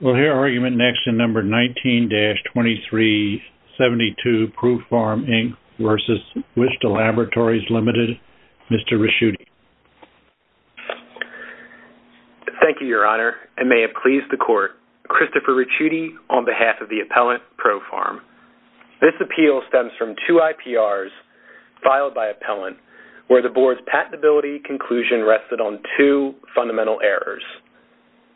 We'll hear argument next in No. 19-2372, Propharm Inc. v. WisTa Laboratories Ltd., Mr. Ricciuti. Thank you, Your Honor, and may it please the Court, Christopher Ricciuti on behalf of the appellant, Propharm. This appeal stems from two IPRs filed by appellant where the board's patentability conclusion rested on two fundamental errors.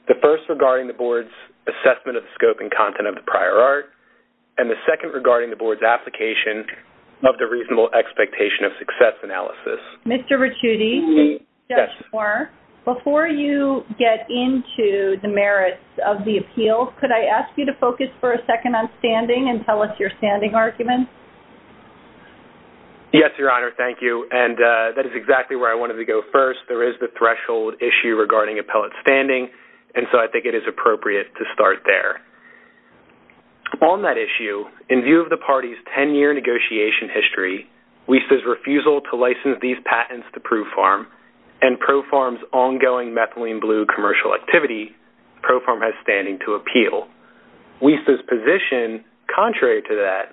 The first regarding the board's assessment of the scope and content of the prior art, and the second regarding the board's application of the reasonable expectation of success analysis. Mr. Ricciuti, Judge Moore, before you get into the merits of the appeal, could I ask you to focus for a second on standing and tell us your standing argument? Yes, Your Honor, thank you, and that is exactly where I wanted to go first. There is the threshold issue regarding appellate standing, and so I think it is appropriate to start there. On that issue, in view of the party's 10-year negotiation history, WisTa's refusal to license these patents to Propharm, and Propharm's ongoing methylene blue commercial activity, Propharm has standing to appeal. WisTa's position, contrary to that,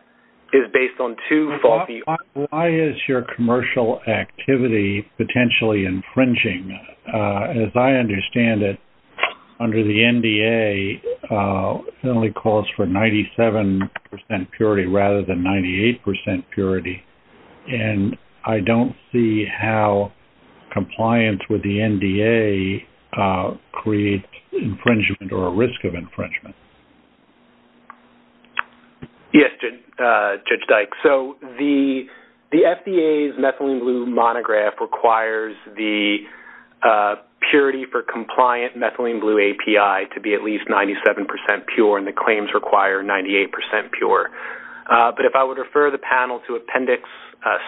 is based on two faulty IPRs. Why is your commercial activity potentially infringing? As I understand it, under the NDA, it only calls for 97% purity rather than 98% purity, and I don't see how compliance with the NDA creates infringement or a risk of infringement. Yes, Judge Dyke. So the FDA's methylene blue monograph requires the purity for compliant methylene blue API to be at least 97% pure, and the claims require 98% pure. But if I would refer the panel to Appendix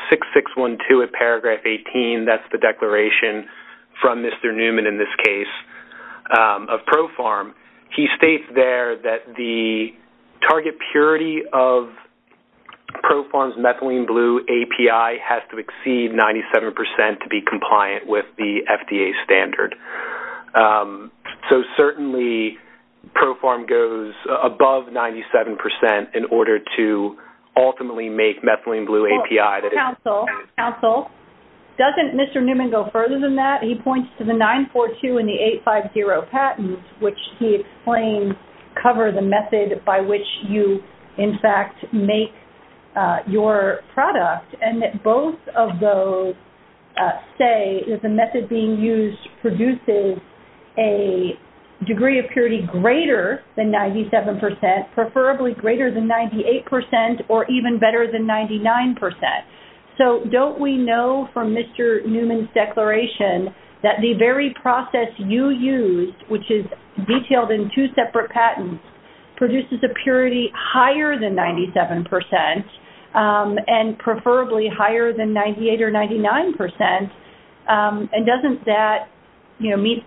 6612 of Paragraph 18, that's the declaration from Mr. Newman in this case of Propharm, he states there that the target purity of Propharm's methylene blue API has to exceed 97% to be compliant with the FDA standard. So certainly Propharm goes above 97% in order to ultimately make methylene blue API. Counsel, Counsel, doesn't Mr. Newman go further than that? He points to the 942 and the 850 patents, which he explains cover the method by which you, in fact, make your product, and that both of those say that the method being used produces a degree of purity greater than 97%, preferably greater than 98%, or even better than 99%. So don't we know from Mr. Newman's declaration that the very process you used, which is detailed in two separate patents, produces a purity higher than 97%, and preferably higher than 98% or 99%, and doesn't that meet,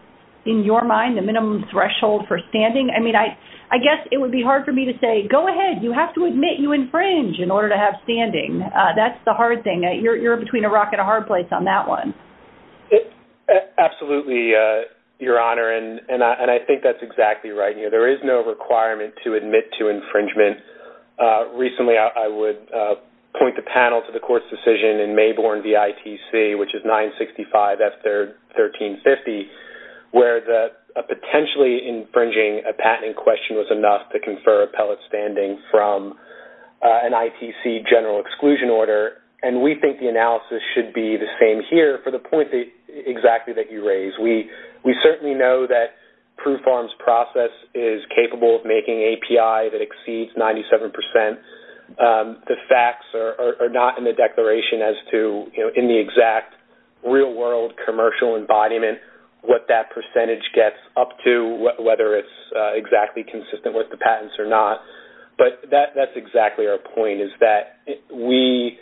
in your mind, the minimum threshold for standing? I mean, I guess it would be hard for me to say, go ahead, you have to admit you infringe in order to have standing. That's the hard thing. You're between a rock and a hard place on that one. Absolutely, Your Honor, and I think that's exactly right. There is no requirement to admit to infringement. Recently I would point the panel to the court's decision in Mayborn v. ITC, which is 965 F1350, where a potentially infringing a patent in question was enough to confer appellate standing from an ITC general exclusion order, and we think the analysis should be the same here for the point exactly that you raised. We certainly know that Prufarm's process is capable of making API that exceeds 97%. The facts are not in the declaration as to, in the exact real-world commercial embodiment, what that percentage gets up to, whether it's exactly consistent with the patents or not, but that's exactly our point is that we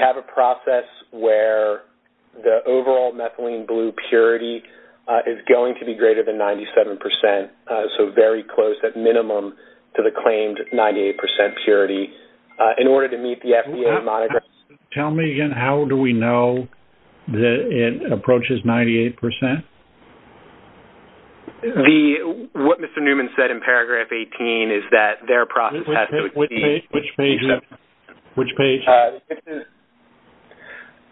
have a process where the overall methylene blue purity is going to be greater than 97%, so very close, at minimum, to the claimed 98% purity in order to meet the FDA monograph standards. Tell me again, how do we know that it approaches 98%? What Mr. Newman said in paragraph 18 is that their process has to exceed 97%. Which page?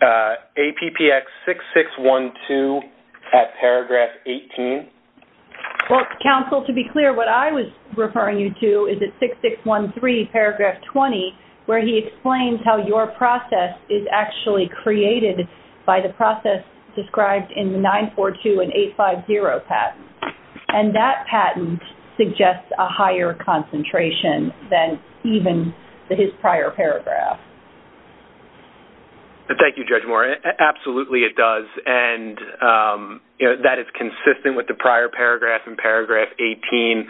APPX 6612 at paragraph 18. Well, counsel, to be clear, what I was referring you to is at 6613, paragraph 20, where he explains how your process is actually created by the process described in the 942 and 850 patents, and that patent suggests a higher concentration than even his prior paragraph. Thank you, Judge Moore. Absolutely it does, and that is consistent with the prior paragraph in paragraph 18.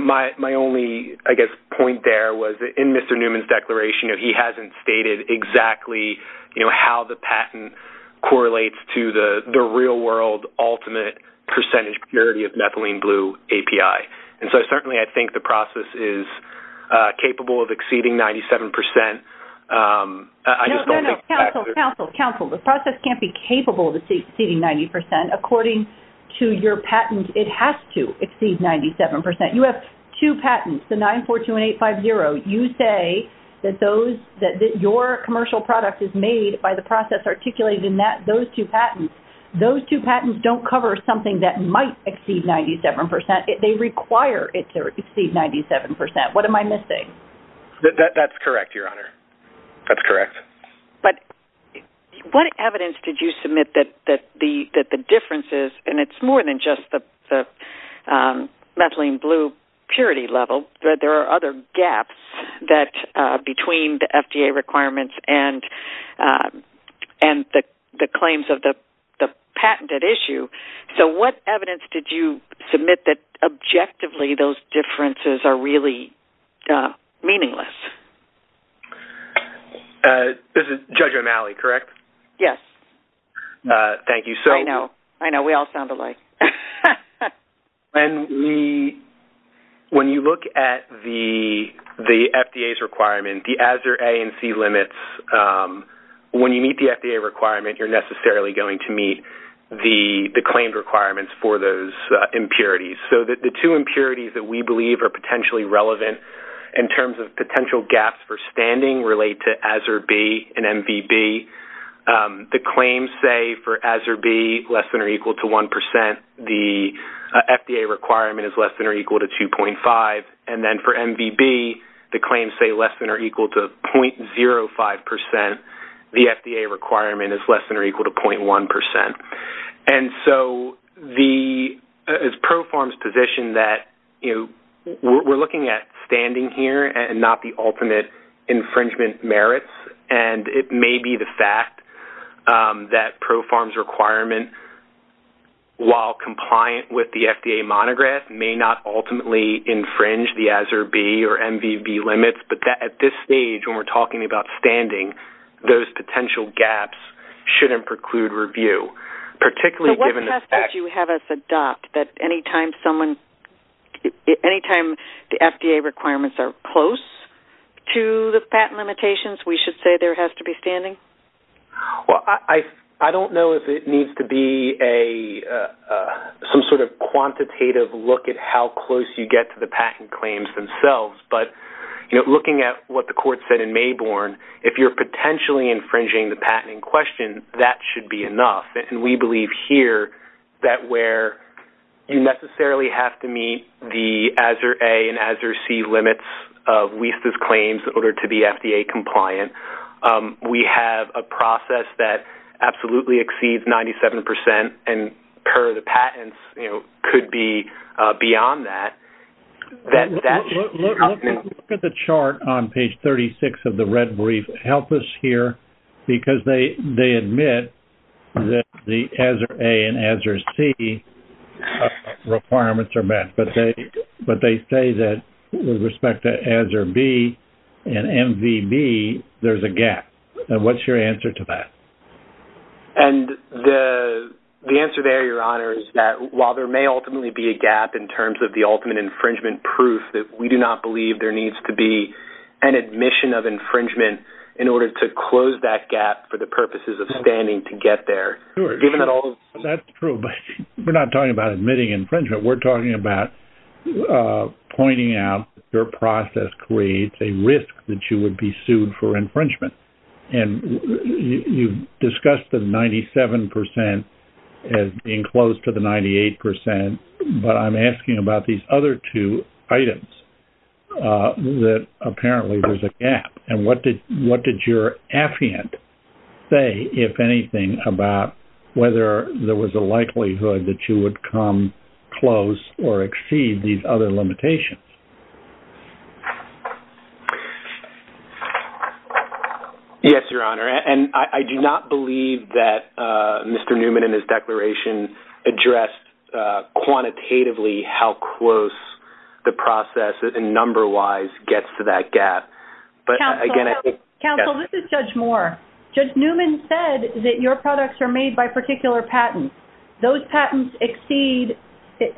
My only, I guess, point there was, in Mr. Newman's declaration, he hasn't stated exactly how the patent correlates to the real-world ultimate percentage purity of methylene blue API, and so certainly I think the process is capable of exceeding 97%. No, no, no, counsel, counsel, counsel. The process can't be capable of exceeding 90%. According to your patent, it has to exceed 97%. You have two patents, the 942 and 850. You say that your commercial product is made by the process articulated in those two patents. Those two patents don't cover something that might exceed 97%. They require it to exceed 97%. What am I missing? That's correct, Your Honor. That's correct. But what evidence did you submit that the differences, and it's more than just the methylene blue purity level, that there are other gaps between the FDA requirements and the claims of the patented issue? So what evidence did you submit that objectively those differences are really meaningless? This is Judge O'Malley, correct? Yes. Thank you. I know. I know. We all sound alike. When you look at the FDA's requirement, the ASER A and C limits, when you meet the FDA requirement, you're necessarily going to meet the claimed requirements for those impurities. So the two impurities that we believe are potentially relevant in terms of potential gaps for standing relate to ASER B and MVB. The claims say for ASER B less than or equal to 1%, the FDA requirement is less than or equal to 2.5. And then for MVB, the claims say less than or equal to 0.05%, the FDA requirement is less than or equal to 0.1%. And so it's ProPharm's position that we're looking at standing here and not the ultimate infringement merits. And it may be the fact that ProPharm's requirement, while compliant with the FDA monograph, may not ultimately infringe the ASER B or MVB limits. But at this stage, when we're talking about standing, those potential gaps shouldn't preclude review, particularly given the fact that any time the FDA requirements are close to the patent limitations, we should say there has to be standing? Well, I don't know if it needs to be some sort of quantitative look at how close you get to the patent claims themselves. But looking at what the court said in Mayborn, if you're potentially infringing the patent in question, that should be enough. And we believe here that where you necessarily have to meet the ASER A and ASER C limits of WESTA's claims in order to be FDA compliant, we have a process that absolutely exceeds 97% and per the patents could be beyond that. Look at the chart on page 36 of the red brief. Help us here because they admit that the ASER A and ASER C requirements are met. But they say that with respect to ASER B and MVB, there's a gap. What's your answer to that? And the answer there, Your Honor, is that while there may ultimately be a gap in terms of the ultimate infringement proof, that we do not believe there needs to be an admission of infringement in order to close that gap for the purposes of standing to get there. That's true, but we're not talking about admitting infringement. We're talking about pointing out that your process creates a risk that you would be sued for infringement. And you've discussed the 97% as being close to the 98%, but I'm asking about these other two items that apparently there's a gap. And what did your affiant say, if anything, about whether there was a likelihood that you would come close or exceed these other limitations? Yes, Your Honor. And I do not believe that Mr. Newman in his declaration addressed quantitatively how close the process, number-wise, gets to that gap. Counsel, this is Judge Moore. Judge Newman said that your products are made by particular patents. Those patents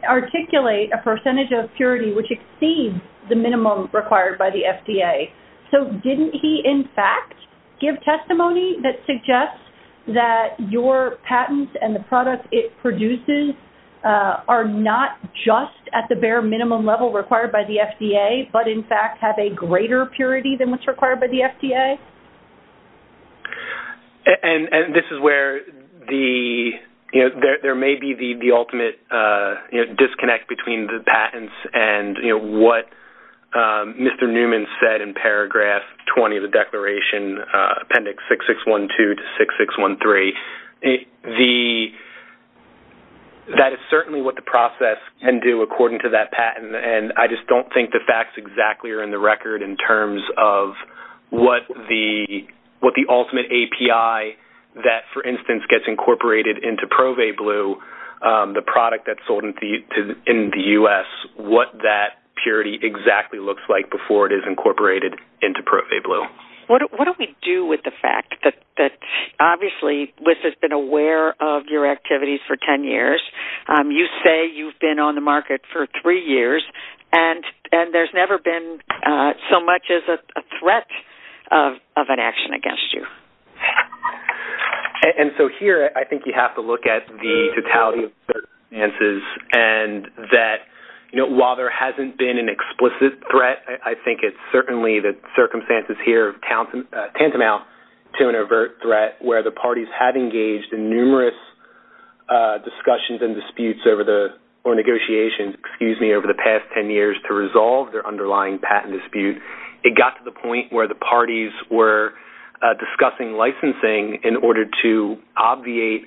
articulate a percentage of purity which exceeds the minimum required by the FDA. So didn't he, in fact, give testimony that suggests that your patents and the products it produces are not just at the bare minimum level required by the FDA, but, in fact, have a greater purity than what's required by the FDA? And this is where there may be the ultimate disconnect between the patents and what Mr. Newman said in Paragraph 20 of the Declaration, Appendix 6612 to 6613. That is certainly what the process can do according to that patent, and I just don't think the facts exactly are in the record in terms of what the ultimate API that, for instance, gets incorporated into ProveyBlue, the product that's sold in the U.S., what that purity exactly looks like before it is incorporated into ProveyBlue. What do we do with the fact that, obviously, this has been aware of your activities for 10 years. You say you've been on the market for three years, and there's never been so much as a threat of an action against you. And so here I think you have to look at the totality of circumstances and that while there hasn't been an explicit threat, I think it's certainly the circumstances here tantamount to an overt threat where the parties have engaged in numerous discussions and disputes over the or negotiations, excuse me, over the past 10 years to resolve their underlying patent dispute. It got to the point where the parties were discussing licensing in order to obviate,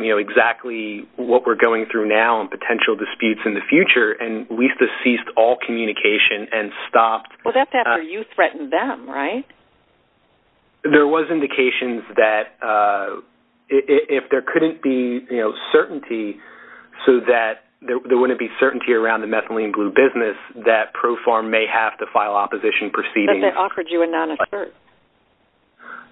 you know, exactly what we're going through now and potential disputes in the future, and at least this ceased all communication and stopped. Well, that's after you threatened them, right? There was indications that if there couldn't be, you know, certainty so that there wouldn't be certainty around the Methylene Blue business, that ProPharm may have to file opposition proceedings. But they offered you a non-assert.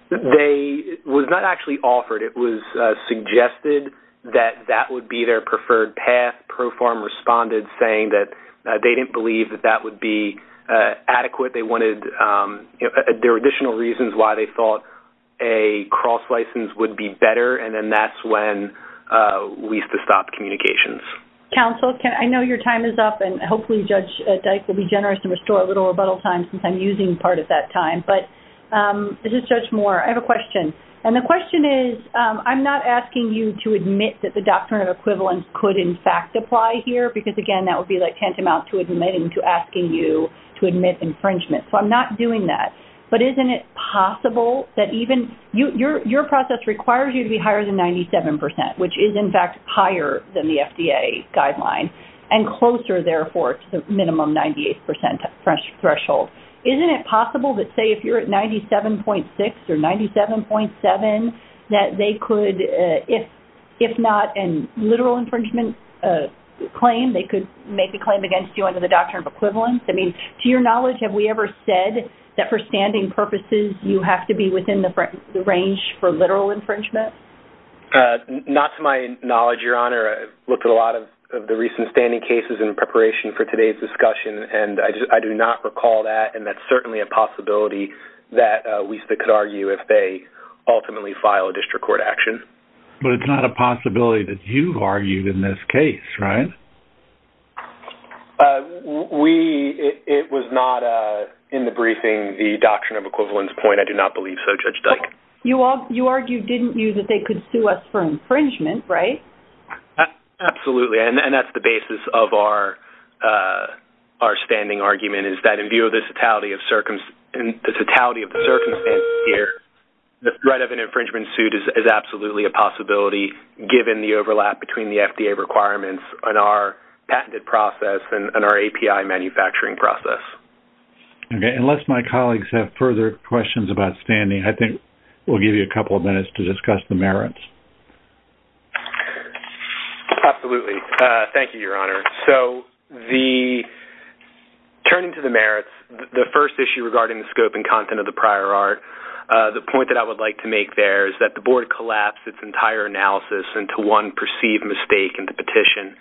They were not actually offered. It was suggested that that would be their preferred path. ProPharm responded saying that they didn't believe that that would be adequate. They wanted additional reasons why they thought a cross license would be better, and then that's when we used to stop communications. Counsel, I know your time is up, and hopefully Judge Dyke will be generous and restore a little rebuttal time since I'm using part of that time. But this is Judge Moore. I have a question, and the question is, I'm not asking you to admit that the Doctrine of Equivalence could in fact apply here, because, again, that would be tantamount to admitting to asking you to admit infringement. So I'm not doing that. But isn't it possible that even your process requires you to be higher than 97%, which is in fact higher than the FDA guideline and closer, therefore, to the minimum 98% threshold. Isn't it possible that, say, if you're at 97.6% or 97.7%, that they could, if not a literal infringement claim, they could make a claim against you under the Doctrine of Equivalence? I mean, to your knowledge, have we ever said that for standing purposes, you have to be within the range for literal infringement? Not to my knowledge, Your Honor. I've looked at a lot of the recent standing cases in preparation for today's discussion, and I do not recall that, and that's certainly a possibility that WESTA could argue if they ultimately file a district court action. But it's not a possibility that you argued in this case, right? It was not in the briefing the Doctrine of Equivalence point. I do not believe so, Judge Dyke. You argued, didn't you, that they could sue us for infringement, right? Absolutely, and that's the basis of our standing argument, is that in view of the totality of the circumstances here, the threat of an infringement suit is absolutely a possibility, given the overlap between the FDA requirements and our patented process and our API manufacturing process. Okay. Unless my colleagues have further questions about standing, I think we'll give you a couple of minutes to discuss the merits. Absolutely. Thank you, Your Honor. So turning to the merits, the first issue regarding the scope and content of the prior art, the point that I would like to make there is that the Board collapsed its entire analysis into one perceived mistake in the petition,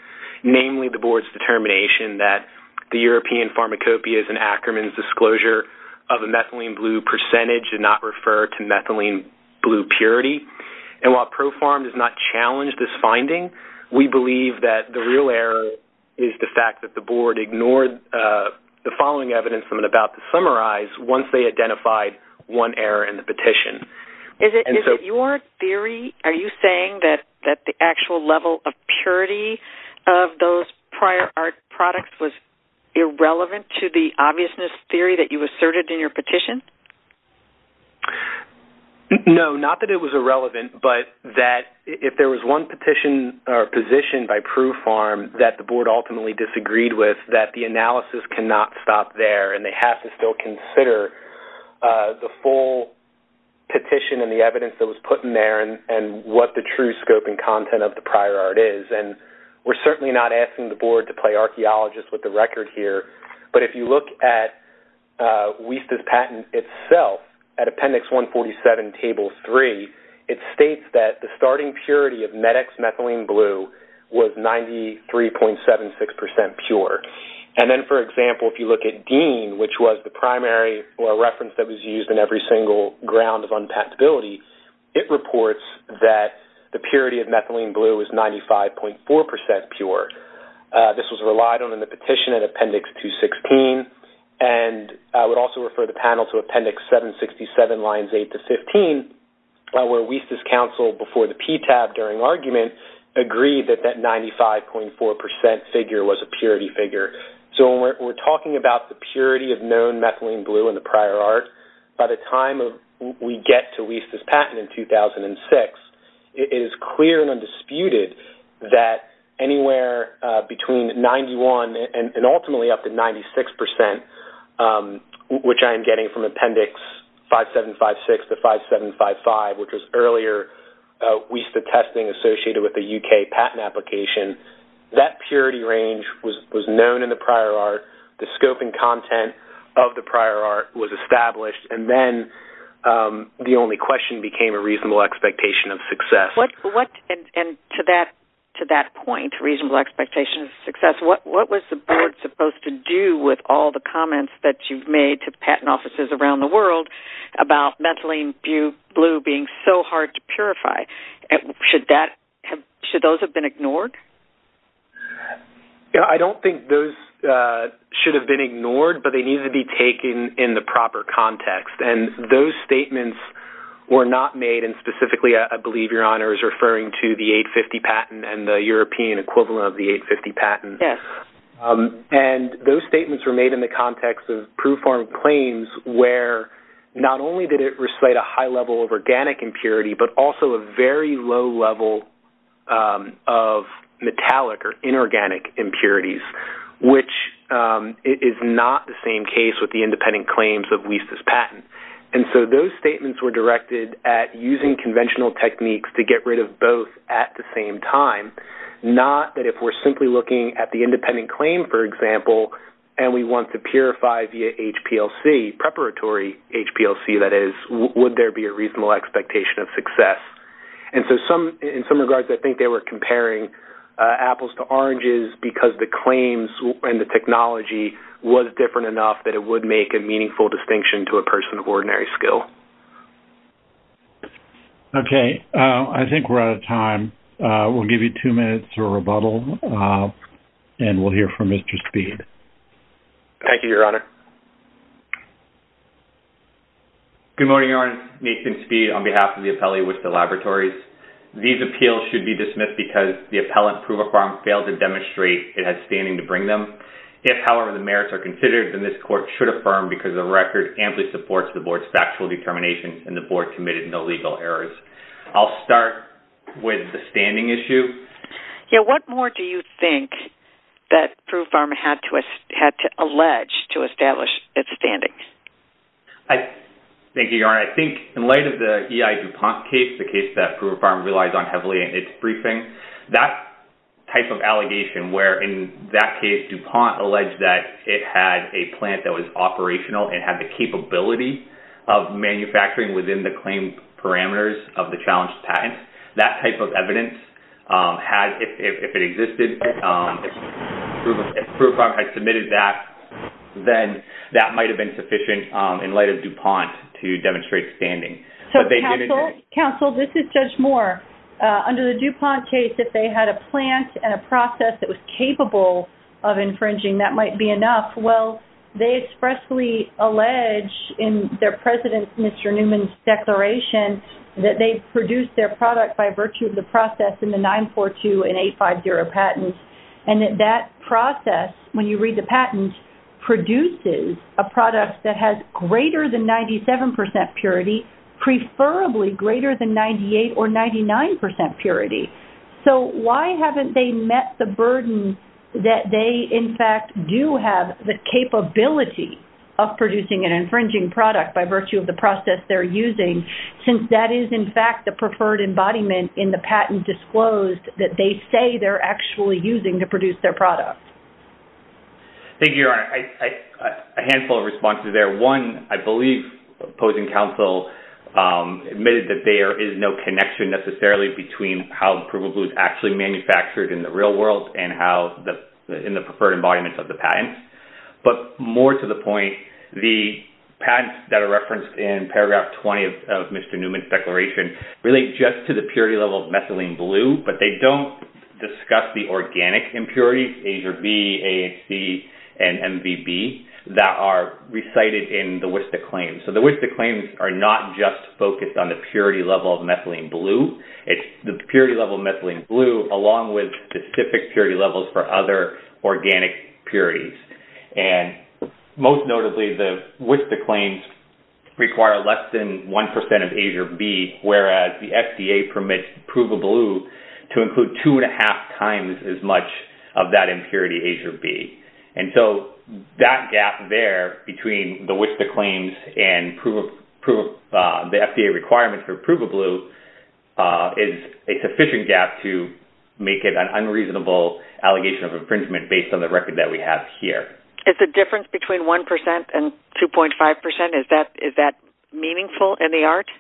namely the Board's determination that the European pharmacopoeias and Ackerman's disclosure of a methylene blue percentage did not refer to methylene blue purity. And while ProPharm does not challenge this finding, we believe that the real error is the fact that the Board ignored the following evidence I'm about to summarize once they identified one error in the petition. Is it your theory, are you saying that the actual level of purity of those prior art products was irrelevant to the obviousness theory that you asserted in your petition? No, not that it was irrelevant, but that if there was one petition or position by ProPharm that the Board ultimately disagreed with, that the analysis cannot stop there and they have to still consider the full petition and the evidence that was put in there and what the true scope and content of the prior art is. And we're certainly not asking the Board to play archaeologist with the record here, but if you look at Wieste's patent itself at Appendix 147, Table 3, it states that the starting purity of Medex methylene blue was 93.76% pure. And then, for example, if you look at Dean, which was the primary reference that was used in every single ground of unpastability, it reports that the purity of methylene blue is 95.4% pure. This was relied on in the petition at Appendix 216, and I would also refer the panel to Appendix 767, Lines 8 to 15, where Wieste's counsel before the PTAB during argument agreed that that 95.4% figure was a purity figure. So we're talking about the purity of known methylene blue in the prior art. By the time we get to Wieste's patent in 2006, it is clear and undisputed that anywhere between 91% and ultimately up to 96%, which I am getting from Appendix 5756 to 5755, which was earlier Wieste's testing associated with the U.K. patent application, that purity range was known in the prior art. The scope and content of the prior art was established, and then the only question became a reasonable expectation of success. And to that point, reasonable expectation of success, what was the board supposed to do with all the comments that you've made to patent offices around the world about methylene blue being so hard to purify? Should those have been ignored? I don't think those should have been ignored, but they need to be taken in the proper context. And those statements were not made, and specifically, I believe, Your Honor, is referring to the 850 patent and the European equivalent of the 850 patent. Yes. And those statements were made in the context of proof-of-claims where not only did it recite a high level of organic impurity but also a very low level of metallic or inorganic impurities, which is not the same case with the independent claims of Wieste's patent. And so those statements were directed at using conventional techniques to get rid of both at the same time, not that if we're simply looking at the independent claim, for example, and we want to purify via HPLC, preparatory HPLC, that is, would there be a reasonable expectation of success? And so in some regards, I think they were comparing apples to oranges because the claims and the technology was different enough that it would make a meaningful distinction to a person of ordinary skill. Okay. I think we're out of time. We'll give you two minutes for a rebuttal, and we'll hear from Mr. Speed. Thank you, Your Honor. Good morning, Your Honor. Nathan Speed on behalf of the appellee at Wieste Laboratories. These appeals should be dismissed because the appellant proof-of-claim failed to demonstrate it had standing to bring them. If, however, the merits are considered, then this court should affirm because the record amply supports the Board's factual determination and the Board committed no legal errors. I'll start with the standing issue. Yeah. What more do you think that Proof-of-Arm had to allege to establish its standing? Thank you, Your Honor. I think in light of the EI DuPont case, the case that Proof-of-Arm relies on heavily in its briefing, that type of allegation where, in that case, DuPont alleged that it had a plant that was operational and had the capability of manufacturing within the claim parameters of the challenged patent, that type of evidence, if it existed, if Proof-of-Arm had submitted that, then that might have been sufficient in light of DuPont to demonstrate standing. Counsel, this is Judge Moore. Under the DuPont case, if they had a plant and a process that was capable of infringing, that might be enough. Well, they expressly allege in their President, Mr. Newman's declaration that they produced their product by virtue of the process in the 942 and 850 patents, and that that process, when you read the patent, produces a product that has greater than 97% purity, preferably greater than 98% or 99% purity. So why haven't they met the burden that they, in fact, do have the capability of producing an infringing product by virtue of the process they're using, since that is, in fact, the preferred embodiment in the patent disclosed that they say they're actually using to produce their product? Thank you, Your Honor. A handful of responses there. One, I believe opposing counsel admitted that there is no connection necessarily between how approval glue is actually manufactured in the real world and how in the preferred embodiment of the patent. But more to the point, the patents that are referenced in paragraph 20 of Mr. Newman's declaration relate just to the purity level of methylene blue, but they don't discuss the organic impurities, azure B, AAC, and MVB, that are recited in the WISDA claims. So the WISDA claims are not just focused on the purity level of methylene blue. It's the purity level of methylene blue, along with specific purity levels for other organic purities. And most notably, the WISDA claims require less than 1% of azure B, whereas the FDA permits approval glue to include 2.5 times as much of that impurity, azure B. And so that gap there between the WISDA claims and the FDA requirements for approval glue is a sufficient gap to make it an unreasonable allegation of infringement based on the record that we have here. It's a difference between 1% and 2.5%. Is that meaningful in the art?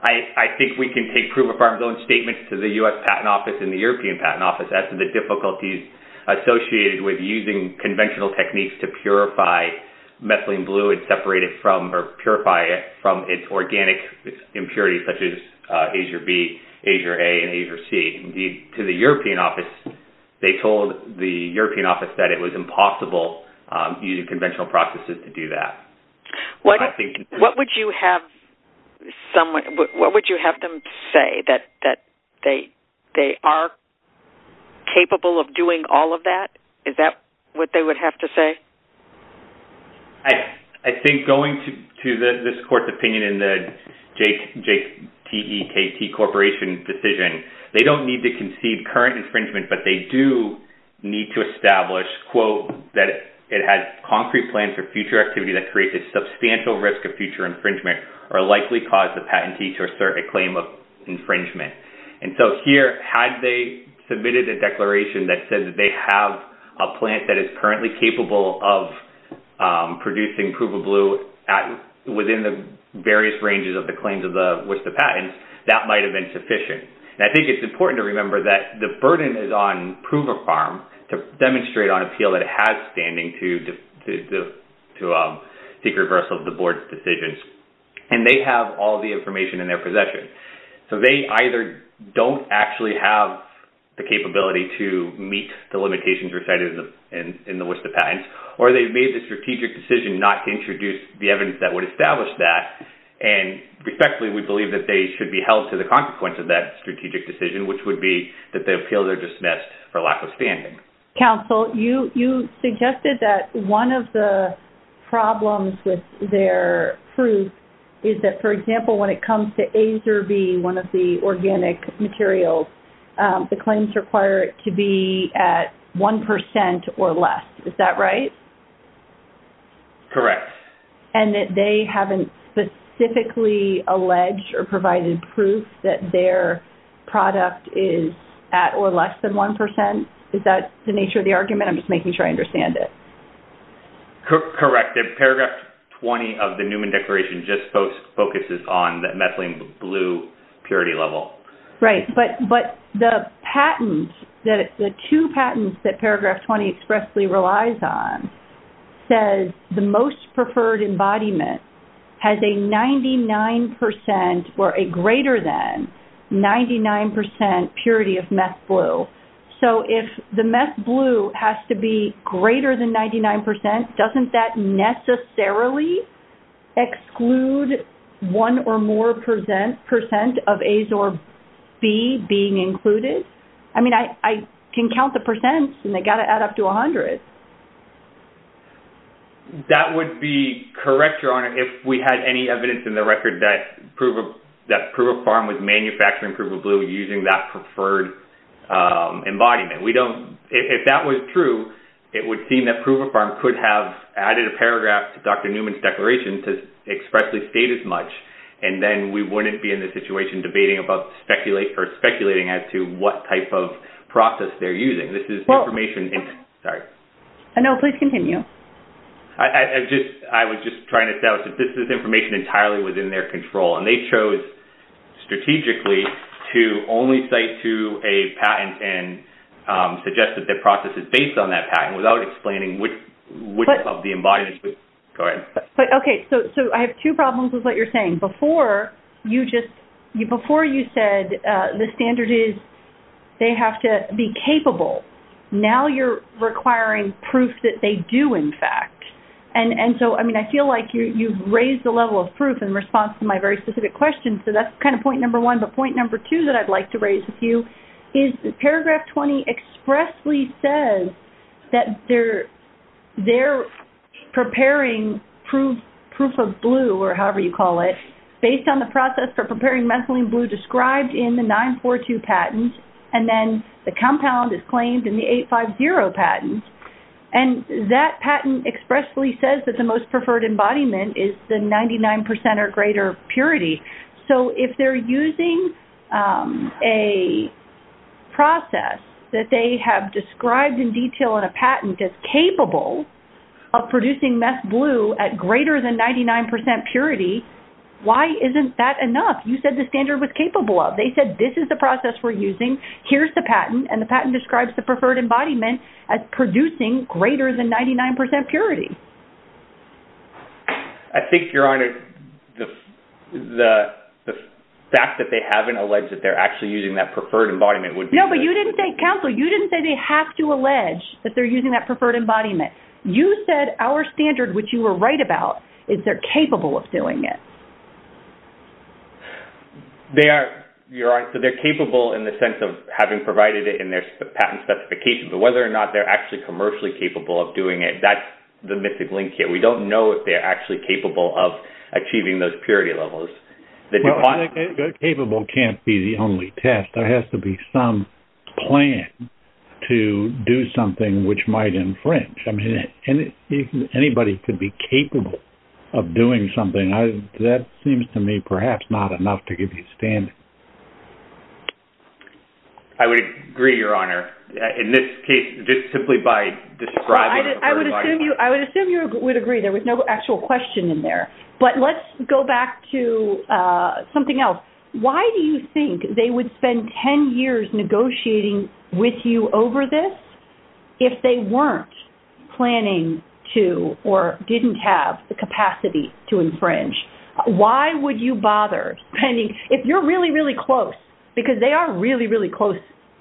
I think we can take proof of our own statements to the U.S. Patent Office and the European Patent Office as to the difficulties associated with using conventional techniques to purify methylene blue and separate it from or purify it from its organic impurities, such as azure B, azure A, and azure C. To the European Office, they told the European Office that it was impossible using conventional processes to do that. What would you have them say? That they are capable of doing all of that? Is that what they would have to say? I think going to this court's opinion in the JTEKT Corporation decision, they don't need to concede current infringement, but they do need to establish, quote, that it had concrete plans for future activity that created substantial risk of future infringement or likely caused the patentee to assert a claim of infringement. Here, had they submitted a declaration that said that they have a plant that is currently capable of producing proof of blue within the various ranges of the claims with the patents, that might have been sufficient. I think it's important to remember that the burden is on Prover Farm to demonstrate on appeal that it has standing to take reversal of the board's decisions. They have all the information in their possession. They either don't actually have the capability to meet the limitations recited in the WISDA patents, or they've made the strategic decision not to introduce the evidence that would establish that. Respectfully, we believe that they should be held to the consequence of that strategic decision, which would be that the appeals are dismissed for lack of standing. Counsel, you suggested that one of the problems with their proof is that, for example, when it comes to ASER-B, one of the organic materials, the claims require it to be at 1% or less. Is that right? Correct. And that they haven't specifically alleged or provided proof that their product is at or less than 1%? Is that the nature of the argument? I'm just making sure I understand it. Correct. Paragraph 20 of the Newman Declaration just focuses on that methylene blue purity level. Right. But the patent, the two patents that paragraph 20 expressly relies on, says the most preferred embodiment has a 99% or a greater than 99% purity of meth blue. So if the meth blue has to be greater than 99%, doesn't that necessarily exclude one or more percent of ASER-B being included? I mean, I can count the percents, and they've got to add up to 100. That would be correct, Your Honor, if we had any evidence in the record that Proof-of-Farm was manufacturing Proof-of-Blue using that preferred embodiment. If that was true, it would seem that Proof-of-Farm could have added a paragraph to Dr. Newman's declaration to expressly state as much, and then we wouldn't be in this situation debating or speculating as to what type of process they're using. This is information in the document. No, please continue. I was just trying to establish that this is information entirely within their control, and they chose strategically to only cite to a patent and suggest that their process is based on that patent without explaining which of the embodiments. Go ahead. Okay, so I have two problems with what you're saying. Before you said the standard is they have to be capable. Now you're requiring proof that they do, in fact. And so, I mean, I feel like you've raised the level of proof in response to my very specific question, so that's kind of point number one. But point number two that I'd like to raise with you is that Paragraph 20 expressly says that they're preparing Proof-of-Blue, or however you call it, based on the process for preparing methylene blue described in the 942 patent, and then the compound is claimed in the 850 patent. And that patent expressly says that the most preferred embodiment is the 99% or greater purity. So if they're using a process that they have described in detail in a patent that's capable of producing meth blue at greater than 99% purity, why isn't that enough? You said the standard was capable of. They said this is the process we're using. Here's the patent, and the patent describes the preferred embodiment as producing greater than 99% purity. I think, Your Honor, the fact that they haven't alleged that they're actually using that preferred embodiment... No, but you didn't say, Counsel, you didn't say they have to allege that they're using that preferred embodiment. You said our standard, which you were right about, is they're capable of doing it. They are, Your Honor, they're capable in the sense of having provided it in their patent specification, but whether or not they're actually commercially capable of doing it, that's the missing link here. We don't know if they're actually capable of achieving those purity levels. Well, capable can't be the only test. There has to be some plan to do something which might infringe. I mean, anybody could be capable of doing something. That seems to me perhaps not enough to give you standing. I would agree, Your Honor. In this case, just simply by describing... I would assume you would agree. There was no actual question in there. But let's go back to something else. Why do you think they would spend 10 years negotiating with you over this if they weren't planning to or didn't have the capacity to infringe? Why would you bother spending... If you're really, really close, because they are really, really close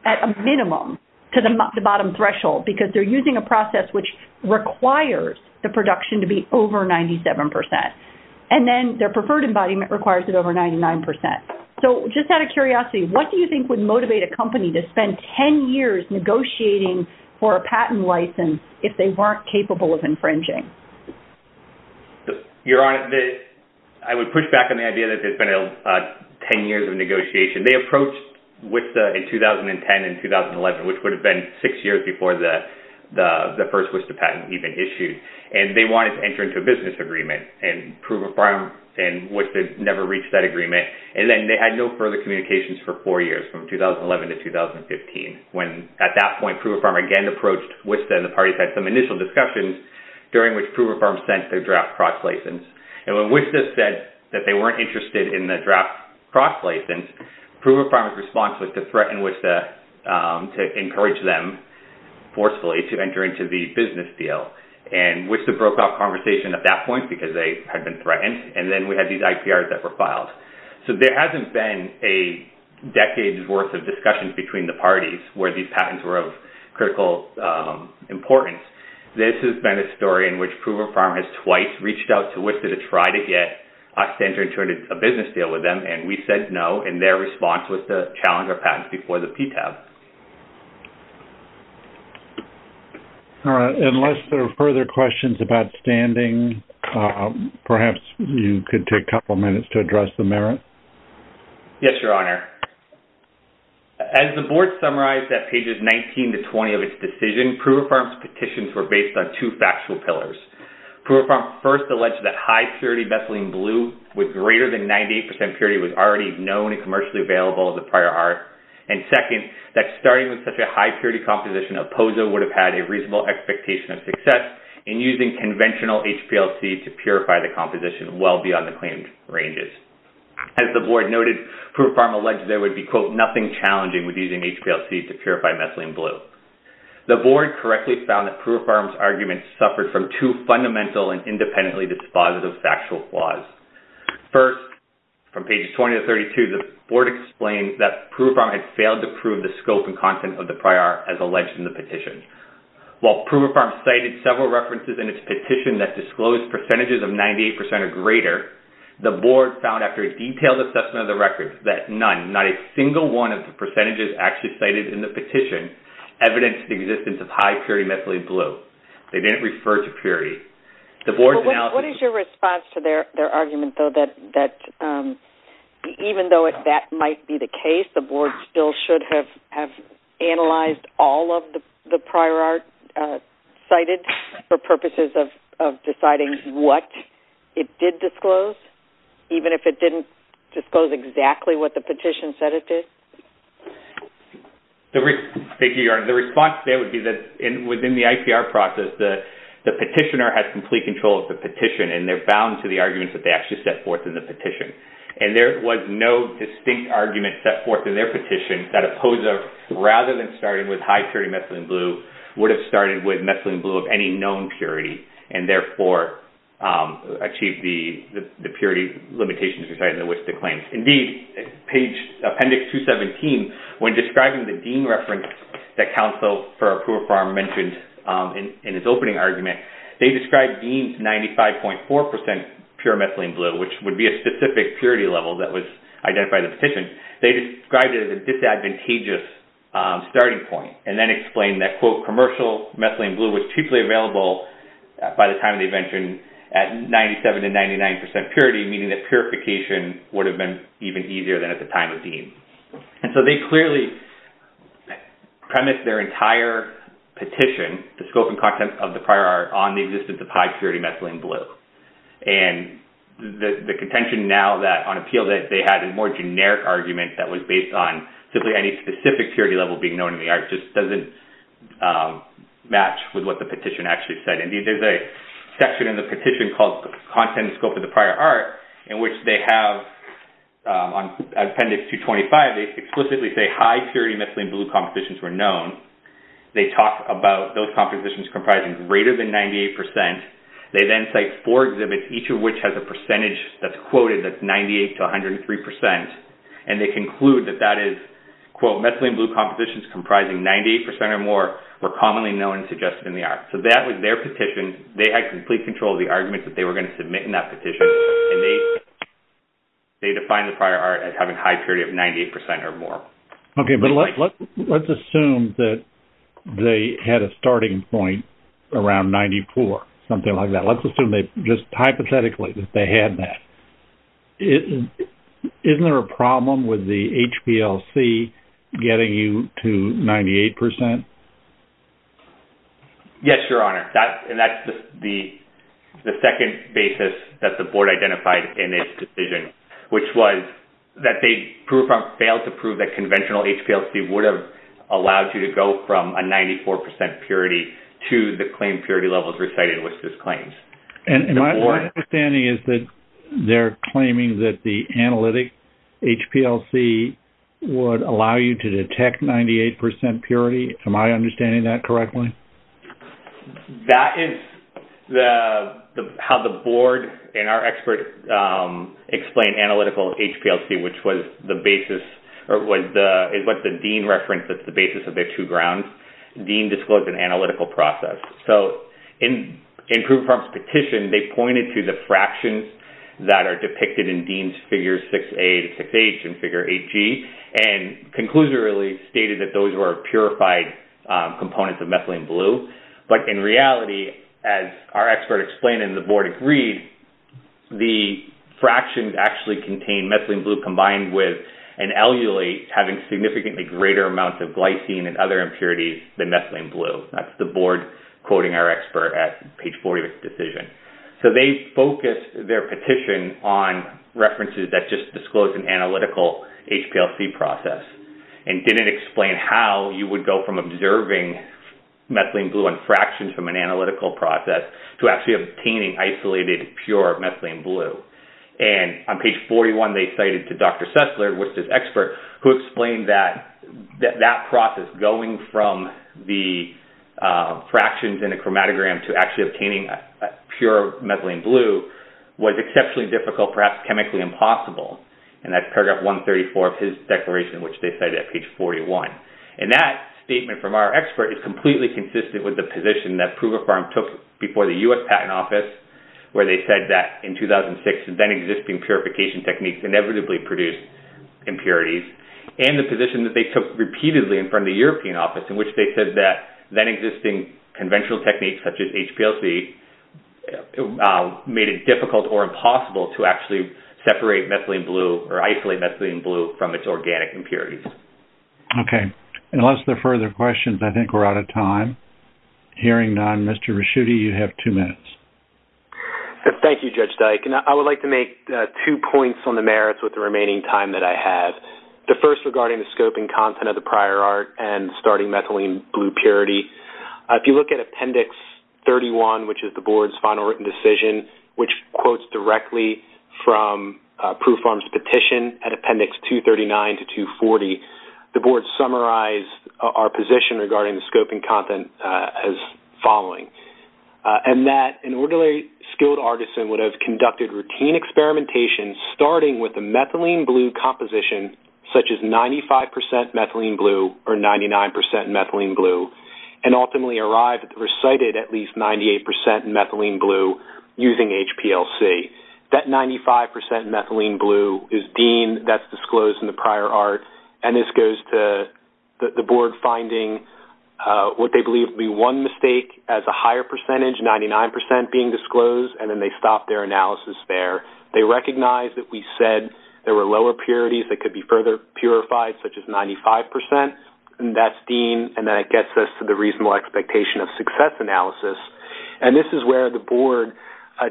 at a minimum to the bottom threshold because they're using a process which requires the production to be over 97%, and then their preferred embodiment requires it over 99%. So just out of curiosity, what do you think would motivate a company to spend 10 years negotiating for a patent license if they weren't capable of infringing? Your Honor, I would push back on the idea that they'd spend 10 years of negotiation. They approached WISDA in 2010 and 2011, which would have been 6 years before the first WISDA patent even issued. And they wanted to enter into a business agreement, and PruvaPharma and WISDA never reached that agreement. And then they had no further communications for 4 years, from 2011 to 2015, when at that point, PruvaPharma again approached WISDA and the parties had some initial discussions during which PruvaPharma sent their draft cross-license. And when WISDA said that they weren't interested in the draft cross-license, PruvaPharma's response was to threaten WISDA to encourage them forcefully to enter into the business deal. And WISDA broke off conversation at that point because they had been threatened, and then we had these IPRs that were filed. So there hasn't been a decade's worth of discussions between the parties where these patents were of critical importance. This has been a story in which PruvaPharma has twice reached out to WISDA to try to get us to enter into a business deal with them, and we said no, and their response was to challenge our patents before the PTAB. Unless there are further questions about standing, perhaps you could take a couple minutes to address the merits. Yes, Your Honor. As the board summarized at pages 19 to 20 of its decision, PruvaPharma's petitions were based on two factual pillars. PruvaPharma first alleged that high-purity methylene blue with greater than 98% purity was already known and commercially available as a prior art, and second, that starting with such a high-purity composition of POZO would have had a reasonable expectation of success in using conventional HPLC to purify the composition well beyond the claimed ranges. As the board noted, PruvaPharma alleged there would be, quote, nothing challenging with using HPLC to purify methylene blue. The board correctly found that PruvaPharma's argument suffered from two fundamental and independently dispositive factual flaws. First, from pages 20 to 32, the board explained that PruvaPharma had failed to prove the scope and content of the prior art as alleged in the petition. that disclosed percentages of 98% or greater, the board found after a detailed assessment of the records that none, not a single one of the percentages actually cited in the petition evidenced the existence of high-purity methylene blue. They didn't refer to purity. The board's analysis... What is your response to their argument, though, that even though that might be the case, the board still should have analyzed all of the prior art cited for purposes of deciding what it did disclose, even if it didn't disclose exactly what the petition said it did? Thank you, Your Honor. The response there would be that within the IPR process, the petitioner has complete control of the petition, and they're bound to the arguments that they actually set forth in the petition. And there was no distinct argument set forth in their petition that a POSA, rather than starting with high-purity methylene blue, would have started with methylene blue of any known purity and, therefore, achieved the purity limitations decided in the WISDA claims. Indeed, page... Appendix 217, when describing the Dean reference that Counsel for Approval for ARM mentioned in his opening argument, they described Dean's 95.4% pure methylene blue, which would be a specific purity level that was identified in the petition. They described it as a disadvantageous starting point and then explained that, quote, commercial methylene blue was cheaply available by the time of the invention at 97% to 99% purity, meaning that purification would have been even easier than at the time of Dean. And so they clearly premised their entire petition, the scope and content of the prior art, on the existence of high-purity methylene blue. And the contention now that, on appeal, that they had a more generic argument that was based on simply any specific purity level being known in the art just doesn't match with what the petition actually said. Indeed, there's a section in the petition called Content and Scope of the Prior Art in which they have, on Appendix 225, they explicitly say high-purity methylene blue compositions were known. They talk about those compositions comprising greater than 98%. They then cite four exhibits, each of which has a percentage that's quoted that's 98% to 103%, and they conclude that that is, quote, that the methylene blue compositions comprising 98% or more were commonly known and suggested in the art. So that was their petition. They had complete control of the arguments that they were going to submit in that petition, and they defined the prior art as having high purity of 98% or more. Okay, but let's assume that they had a starting point around 94, something like that. Let's assume, just hypothetically, that they had that. Isn't there a problem with the HPLC getting you to 98%? Yes, Your Honor, and that's the second basis that the board identified in its decision, which was that they failed to prove that conventional HPLC would have allowed you to go from a 94% purity to the claim purity levels recited with these claims. My understanding is that they're claiming that the analytic HPLC would allow you to detect 98% purity. Am I understanding that correctly? That is how the board and our expert explained analytical HPLC, which is what the dean referenced as the basis of their two grounds. Dean disclosed an analytical process. In Proof of Performance Petition, they pointed to the fractions that are depicted in Deans Figure 6A to 6H and Figure 8G and conclusively stated that those were purified components of methylene blue. But in reality, as our expert explained and the board agreed, the fractions actually contain methylene blue combined with an alleolate having significantly greater amounts of glycine and other impurities than methylene blue. That's the board quoting our expert at page 40 of the decision. They focused their petition on references that just disclosed an analytical HPLC process and didn't explain how you would go from observing methylene blue in fractions from an analytical process to actually obtaining isolated pure methylene blue. On page 41, they cited Dr. Sesler, which is an expert, who explained that that process going from the fractions in a chromatogram to actually obtaining pure methylene blue was exceptionally difficult, perhaps chemically impossible. And that's paragraph 134 of his declaration, which they cited at page 41. And that statement from our expert is completely consistent with the position that Proof of Performance took before the U.S. Patent Office, where they said that in 2006, then-existing purification techniques inevitably produced impurities, and the position that they took repeatedly in front of the European Office, in which they said that then-existing conventional techniques such as HPLC made it difficult or impossible to actually separate methylene blue or isolate methylene blue from its organic impurities. Okay. Unless there are further questions, I think we're out of time. Hearing none, Mr. Rashidi, you have two minutes. Thank you, Judge Dyke. I would like to make two points on the merits with the remaining time that I have. The first regarding the scope and content of the prior art and starting methylene blue purity. If you look at Appendix 31, which is the Board's final written decision, which quotes directly from Proof of Performance petition at Appendix 239 to 240, the Board summarized our position regarding the scope and content as following, and that an ordinarily skilled artisan would have conducted routine experimentation, starting with a methylene blue composition such as 95% methylene blue or 99% methylene blue, and ultimately arrived at or cited at least 98% methylene blue using HPLC. That 95% methylene blue is deemed that's disclosed in the prior art, and this goes to the Board finding what they believe to be one mistake as a higher percentage, 99% being disclosed, and then they stop their analysis there. They recognize that we said there were lower purities that could be further purified, such as 95%, and that's deemed, and then it gets us to the reasonable expectation of success analysis, and this is where the Board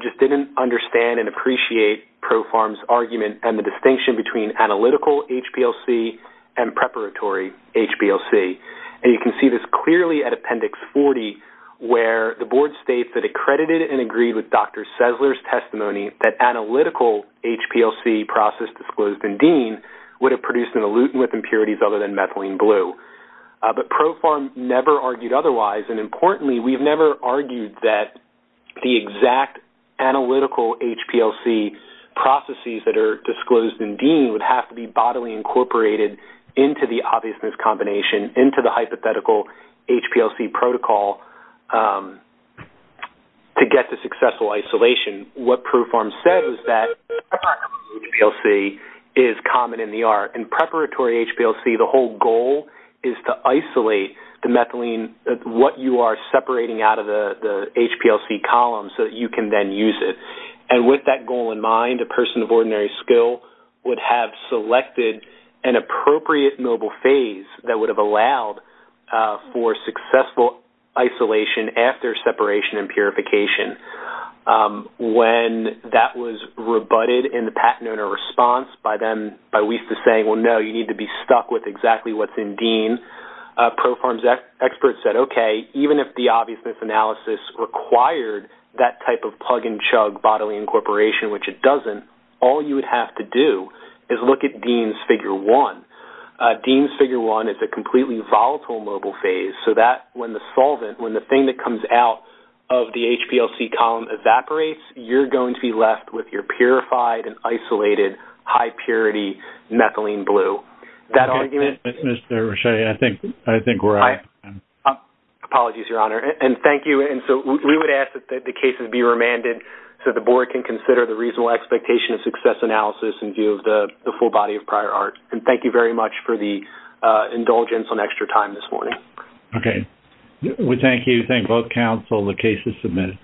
just didn't understand and appreciate ProPharm's argument and the distinction between analytical HPLC and preparatory HPLC, and you can see this clearly at Appendix 40, where the Board states that accredited and agreed with Dr. Sesler's testimony that analytical HPLC process disclosed in DEAN would have produced an elutant with impurities other than methylene blue, but ProPharm never argued otherwise, and importantly, we've never argued that the exact analytical HPLC processes that are disclosed in DEAN would have to be bodily incorporated into the obviousness combination, into the hypothetical HPLC protocol to get to successful isolation. What ProPharm says is that preparatory HPLC is common in the art, and preparatory HPLC, the whole goal, is to isolate the methylene, what you are separating out of the HPLC column so that you can then use it, and with that goal in mind, a person of ordinary skill would have selected an appropriate mobile phase that would have allowed for successful isolation after separation and purification. When that was rebutted in the patent owner response by Wiesta saying, well, no, you need to be stuck with exactly what's in DEAN, ProPharm's experts said, okay, even if the obviousness analysis required that type of plug-and-chug bodily incorporation, which it doesn't, all you would have to do is look at DEAN's Figure 1. DEAN's Figure 1 is a completely volatile mobile phase, so that when the solvent, when the thing that comes out of the HPLC column evaporates, you're going to be left with your purified and isolated high-purity methylene blue. That argument... Mr. Roche, I think we're out of time. Apologies, Your Honor, and thank you, and so we would ask that the case be remanded so the Board can consider the reasonable expectation of success analysis in view of the full body of prior art, and thank you very much for the indulgence on extra time this morning. Okay. We thank you. Thank both counsel. The case is submitted.